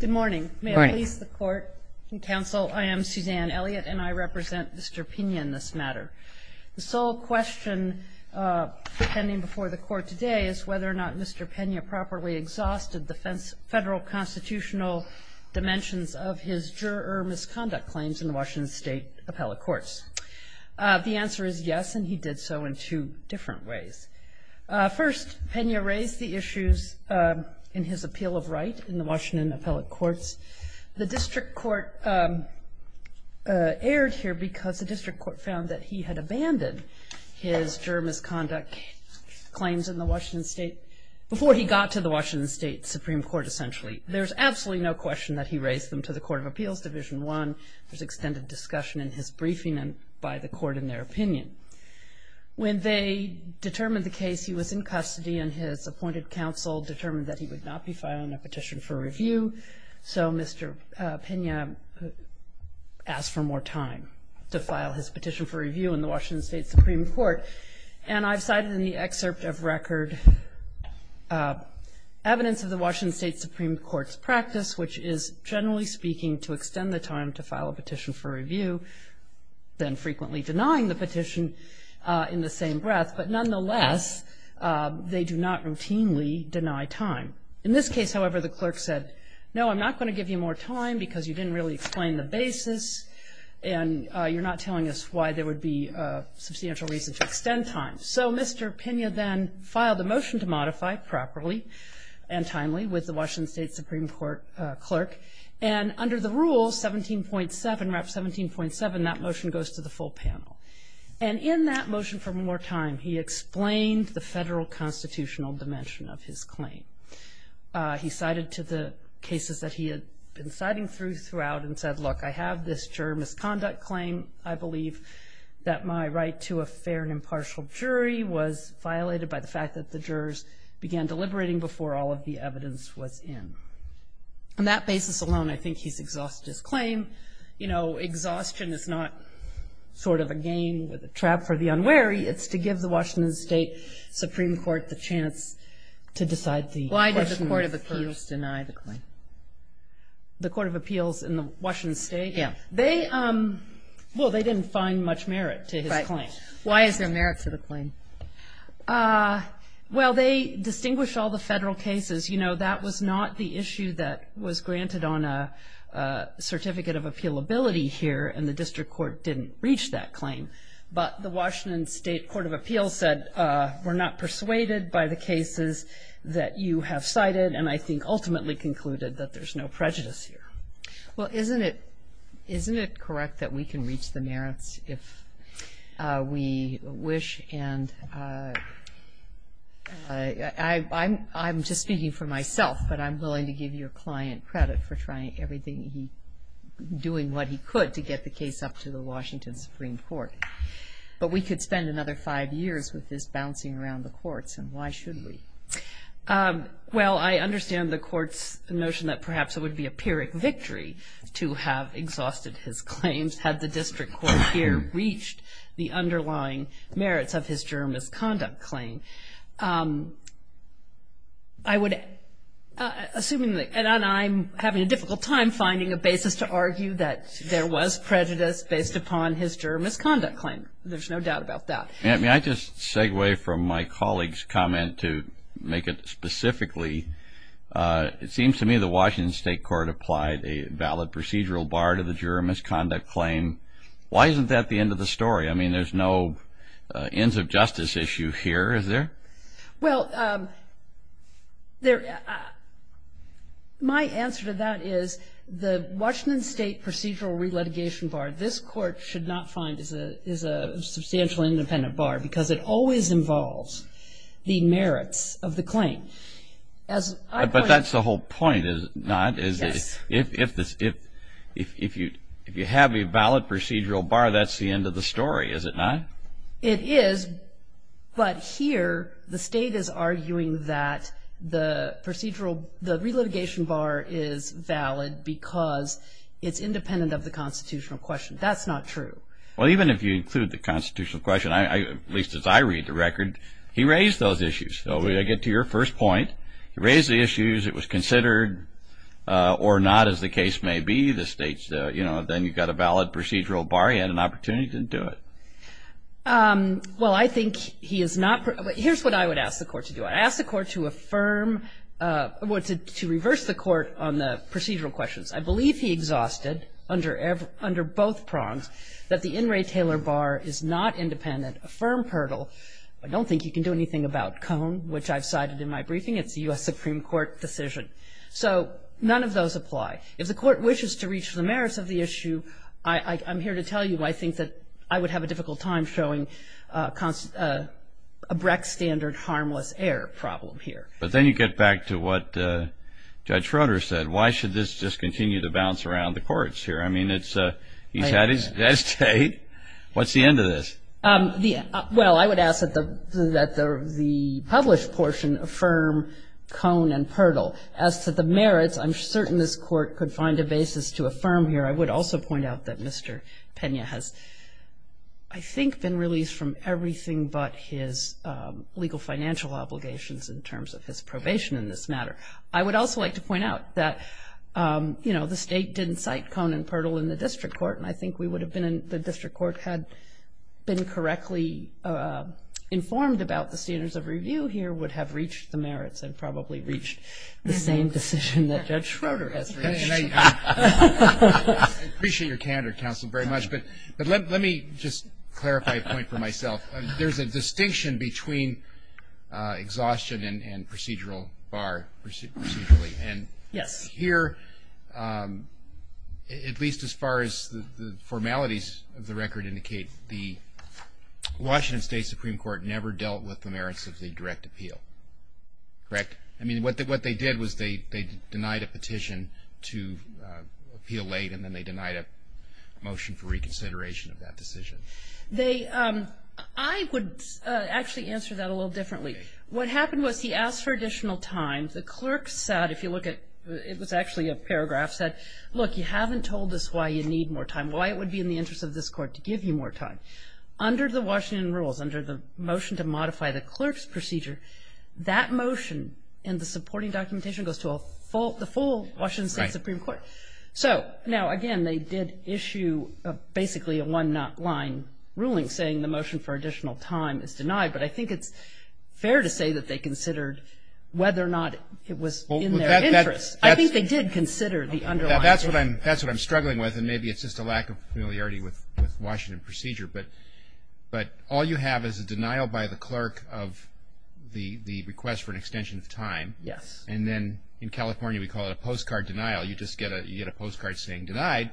Good morning. May I please the court and counsel? I am Suzanne Elliott and I represent Mr. Pina in this matter. The sole question pending before the court today is whether or not Mr. Pena properly exhausted the federal constitutional dimensions of his juror misconduct claims in the Washington State appellate courts. The answer is yes, and he did so in two different ways. First, Pena raised the issues in his appeal of right in the Washington appellate courts. The district court erred here because the district court found that he had abandoned his juror misconduct claims in the Washington State before he got to the Washington State Supreme Court essentially. There's absolutely no question that he raised them to the Court of Appeals, Division I. There's extended discussion in his case. He was in custody and his appointed counsel determined that he would not be filing a petition for review. So Mr. Pena asked for more time to file his petition for review in the Washington State Supreme Court. And I've cited in the excerpt of record evidence of the Washington State Supreme Court's practice, which is, generally speaking, to extend the time to file a petition for review, then frequently denying the petition in the same breath. But nonetheless, they do not routinely deny time. In this case, however, the clerk said, no, I'm not going to give you more time because you didn't really explain the basis and you're not telling us why there would be a substantial reason to extend time. So Mr. Pena then filed a motion to modify properly and timely with the Washington State Supreme Court clerk. And under the rule 17.7, RAP 17.7, that motion goes to the full panel. And in that motion for more time, he explained the federal constitutional dimension of his claim. He cited to the cases that he had been citing throughout and said, look, I have this juror misconduct claim, I believe, that my right to a fair and impartial jury was violated by the fact that the jurors began deliberating before all of the evidence was in. On that basis alone, I think he's exhausted his claim. You know, exhaustion is not sort of a game with a trap for the unwary. It's to give the Washington State Supreme Court the chance to decide the question. Why did the Court of Appeals deny the claim? The Court of Appeals in Washington State? Yeah. They, well, they didn't find much merit to his claim. Right. Why is there merit to the claim? Well, they distinguish all the federal cases. You know, that was not the issue that was granted on a certificate of appealability here, and the district court didn't reach that claim. But the Washington State Court of Appeals said, we're not persuaded by the cases that you have cited, and I think ultimately concluded that there's no prejudice here. Well, isn't it correct that we can reach the merits if we wish? And I'm just speaking for myself, but I'm willing to give your client credit for trying everything he, doing what he could to get the case up to the Washington Supreme Court. But we could spend another five years with this bouncing around the courts, and why should we? Well, I understand the court's notion that perhaps it would be a pyrrhic victory to have exhausted his claims had the district court here reached the underlying merits of his juror misconduct claim. I would, assuming that, and I'm having a difficult time finding a basis to argue that there was prejudice based upon his juror misconduct claim. There's no doubt about that. May I just segue from my colleague's comment to make it specifically? It seems to me the Washington State Court applied a valid procedural bar to the juror misconduct claim. Why isn't that the end of the story? I mean, there's no ends of justice issue here, is there? Well, there, my answer to that is the Washington State procedural re-litigation bar, this court should not find is a substantial independent bar because it always involves the merits of the claim. As I point out. But that's the whole point, is it not? Yes. If you have a valid procedural bar, that's the end of the story, is it not? It is, but here the state is arguing that the procedural, the re-litigation bar is valid because it's independent of the constitutional question. That's not true. Well, even if you include the constitutional question, at least as I read the record, he raised those issues. So I get to your first point. He raised the issues. It was considered or not, as the case may be, the state's, you know, then you've got a valid procedural bar, you had an opportunity to do it. Well, I think he is not, here's what I would ask the court to do. I'd ask the court to affirm, well, to reverse the court on the procedural questions. I believe he exhausted under both prongs that the In re Taylor bar is not independent. Affirm hurdle. I don't think you can do anything about Cone, which I've cited in my briefing. It's a U.S. Supreme Court decision. So none of those apply. If the court wishes to reach the merits of the issue, I'm here to tell you I think that I would have a difficult time showing a Brecht standard harmless error problem here. But then you get back to what Judge Schroeder said. Why should this just continue to bounce around the courts here? I mean, he's had his day. What's the end of this? Well, I would ask that the published portion affirm Cone and Purdell. As to the merits, I'm certain this court could find a basis to affirm here. I would also point out that Mr. Pena has, I think, been released from everything but his legal financial obligations in terms of his probation in this matter. I would also like to point out that, you know, the State didn't cite Cone and Purdell in the district court. And I think we would have been in the district court had been correctly informed about the standards of review here would have reached the merits and probably reached the same decision that Judge Schroeder has reached. I appreciate your candor, counsel, very much. But let me just clarify a point for myself. There's a distinction between exhaustion and procedural bar procedurally. And here, at least as far as the formalities of the record indicate, the Washington State Supreme Court never dealt with the merits of the direct appeal. Correct? I mean, what they did was they denied a petition to appeal late, and then they denied a motion for reconsideration of that decision. I would actually answer that a little differently. What happened was he asked for additional time. The clerk said, if you look at, it was actually a paragraph, said, look, you haven't told us why you need more time, why it would be in the interest of this court to give you more time. Under the Washington rules, under the motion to modify the clerk's procedure, that motion in the supporting documentation goes to the full Washington State Supreme Court. So now, again, they did issue basically a one-not line ruling saying the motion for additional time is denied. But I think it's fair to say that they considered whether or not it was in their interest. I think they did consider the underlying case. That's what I'm struggling with, and maybe it's just a lack of familiarity with Washington procedure. But all you have is a denial by the clerk of the request for an extension of time. Yes. And then in California, we call it a postcard denial. You just get a postcard saying denied.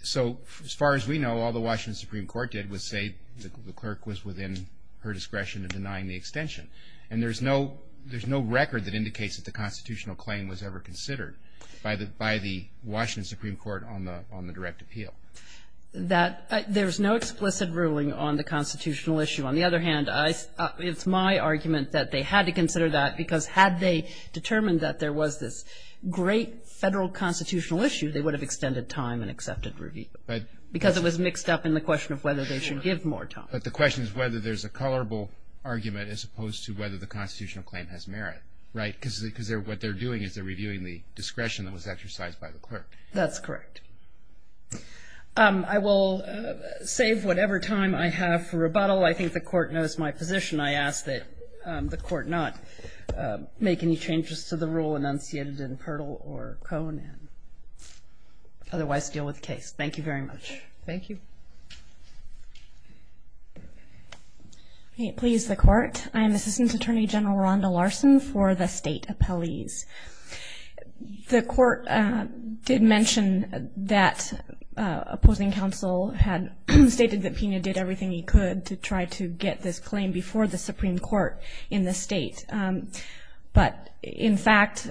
So as far as we know, all the Washington Supreme Court did was say the clerk was within her discretion of denying the extension. And there's no record that indicates that the constitutional claim was ever considered by the Washington Supreme Court on the direct appeal. There's no explicit ruling on the constitutional issue. On the other hand, it's my argument that they had to consider that because had they determined that there was this great Federal constitutional issue, they would have extended time and accepted review because it was mixed up in the question of whether they should give more time. But the question is whether there's a colorable argument as opposed to whether the constitutional claim has merit, right? Because what they're doing is they're reviewing the discretion that was exercised by the clerk. That's correct. I will save whatever time I have for rebuttal. I think the Court knows my position. I ask that the Court not make any changes to the rule enunciated in Perl or Cohn and otherwise deal with the case. Thank you very much. Thank you. Please, the Court. I am Assistant Attorney General Rhonda Larson for the State Appellees. The Court did mention that opposing counsel had stated that Pina did everything he could to try to get this claim before the Supreme Court in the State. But, in fact,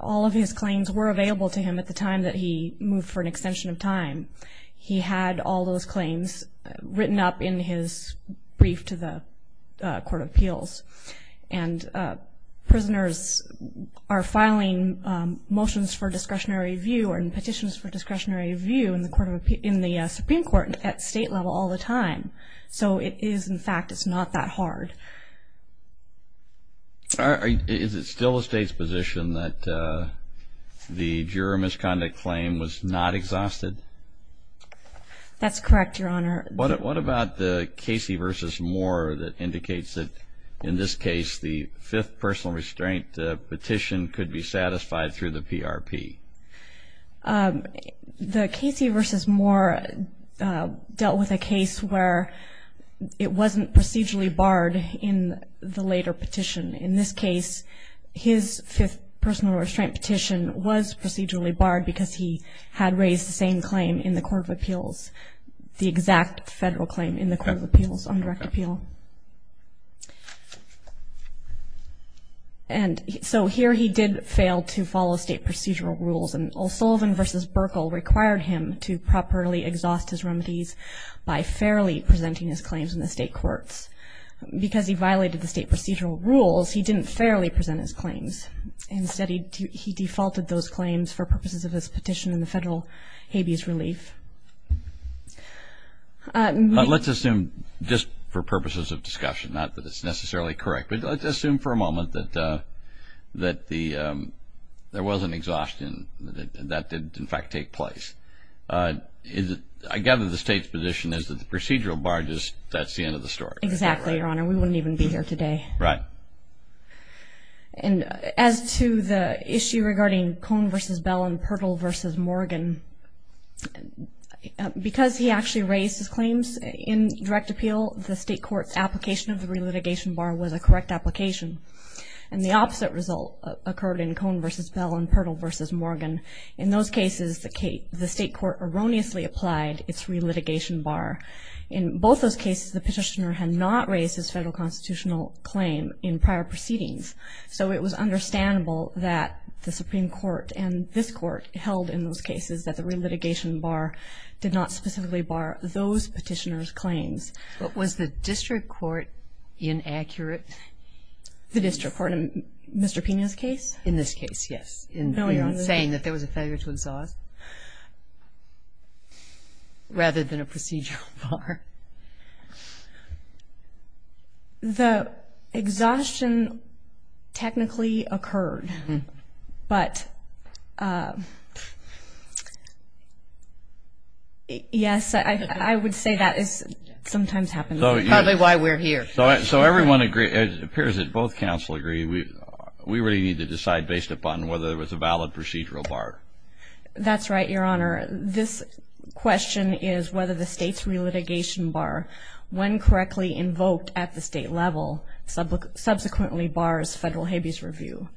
all of his claims were available to him at the time that he moved for an extension of time. He had all those claims written up in his brief to the Court of Appeals. And prisoners are filing motions for discretionary review and petitions for discretionary review in the Supreme Court at State level all the time. So it is, in fact, it's not that hard. Is it still the State's position that the juror misconduct claim was not exhausted? That's correct, Your Honor. What about the Casey v. Moore that indicates that, in this case, the fifth personal restraint petition could be satisfied through the PRP? The Casey v. Moore dealt with a case where it wasn't procedurally barred. In the later petition, in this case, his fifth personal restraint petition was procedurally barred because he had raised the same claim in the Court of Appeals, the exact federal claim in the Court of Appeals on direct appeal. And so here he did fail to follow State procedural rules, and O'Sullivan v. Burkle required him to properly exhaust his remedies by fairly presenting his claims in the State courts. Because he violated the State procedural rules, he didn't fairly present his claims. Instead, he defaulted those claims for purposes of his petition in the federal habeas relief. Let's assume just for purposes of discussion, not that it's necessarily correct, but let's assume for a moment that there was an exhaustion that did, in fact, take place. I gather the State's position is that the procedural bar, that's the end of the story. Exactly, Your Honor. We wouldn't even be here today. Right. And as to the issue regarding Cohn v. Bell and Purtle v. Morgan, because he actually raised his claims in direct appeal, the State court's application of the relitigation bar was a correct application. And the opposite result occurred in Cohn v. Bell and Purtle v. Morgan. In those cases, the State court erroneously applied its relitigation bar. In both those cases, the petitioner had not raised his federal constitutional claim in prior proceedings. So it was understandable that the Supreme Court and this Court held in those cases that the relitigation bar did not specifically bar those petitioners' claims. But was the district court inaccurate? The district court in Mr. Pena's case? In this case, yes. In saying that there was a failure to exhaust rather than a procedural bar. The exhaustion technically occurred, but, yes, I would say that sometimes happens. Probably why we're here. So everyone agrees, it appears that both counsel agree, we really need to decide based upon whether there was a valid procedural bar. That's right, Your Honor. This question is whether the State's relitigation bar, when correctly invoked at the State level, subsequently bars federal habeas review.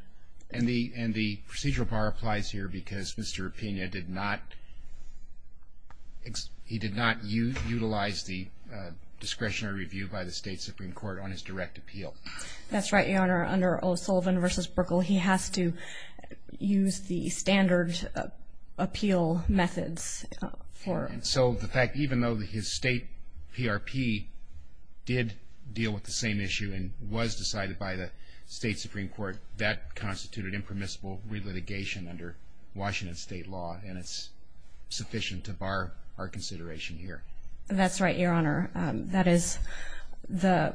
And the procedural bar applies here because Mr. Pena did not utilize the discretionary review by the State Supreme Court on his direct appeal. That's right, Your Honor. Under O'Sullivan v. Buerkle, he has to use the standard appeal methods. So the fact, even though his State PRP did deal with the same issue and was decided by the State Supreme Court, that constituted impermissible relitigation under Washington State law, and it's sufficient to bar our consideration here. That's right, Your Honor. That is the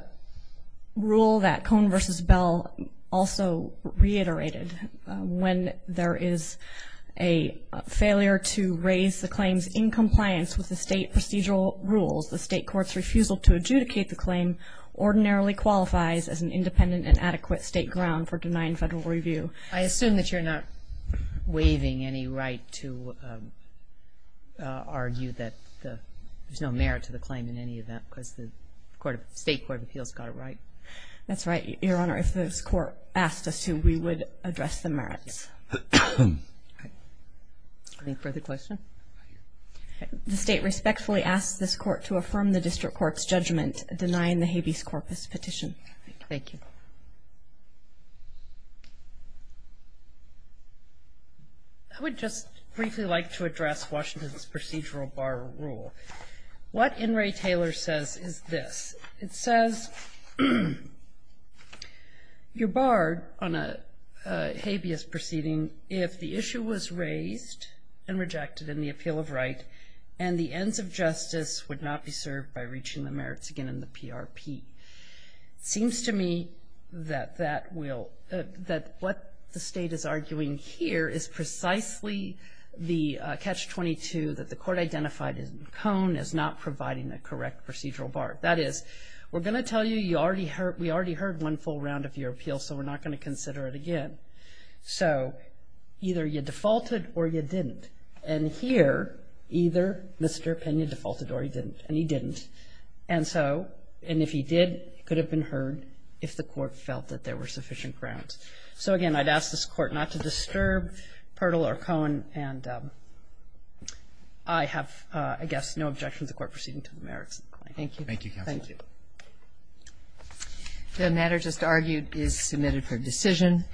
rule that Cohn v. Bell also reiterated. When there is a failure to raise the claims in compliance with the State procedural rules, the State court's refusal to adjudicate the claim ordinarily qualifies as an independent and adequate State ground for denying federal review. I assume that you're not waiving any right to argue that there's no merit to the claim in any event because the State court of appeals got it right. That's right, Your Honor. If this court asked us to, we would address the merits. Any further questions? The State respectfully asks this court to affirm the district court's judgment denying the habeas corpus petition. Thank you. I would just briefly like to address Washington's procedural bar rule. What In re Taylor says is this. It says you're barred on a habeas proceeding if the issue was raised and rejected in the appeal of right and the ends of justice would not be served by reaching the merits again in the PRP. It seems to me that that will – that what the State is arguing here is precisely the catch-22 that the court identified in Cone as not providing a correct procedural bar. That is, we're going to tell you we already heard one full round of your appeal, so we're not going to consider it again. So either you defaulted or you didn't. And here, either Mr. Pena defaulted or he didn't, and he didn't. And so – and if he did, it could have been heard if the court felt that there were sufficient grounds. So, again, I'd ask this Court not to disturb Pertl or Cone, and I have, I guess, no objection to the Court proceeding to the merits. Thank you. Thank you, Counsel. Thank you. The matter just argued is submitted for decision.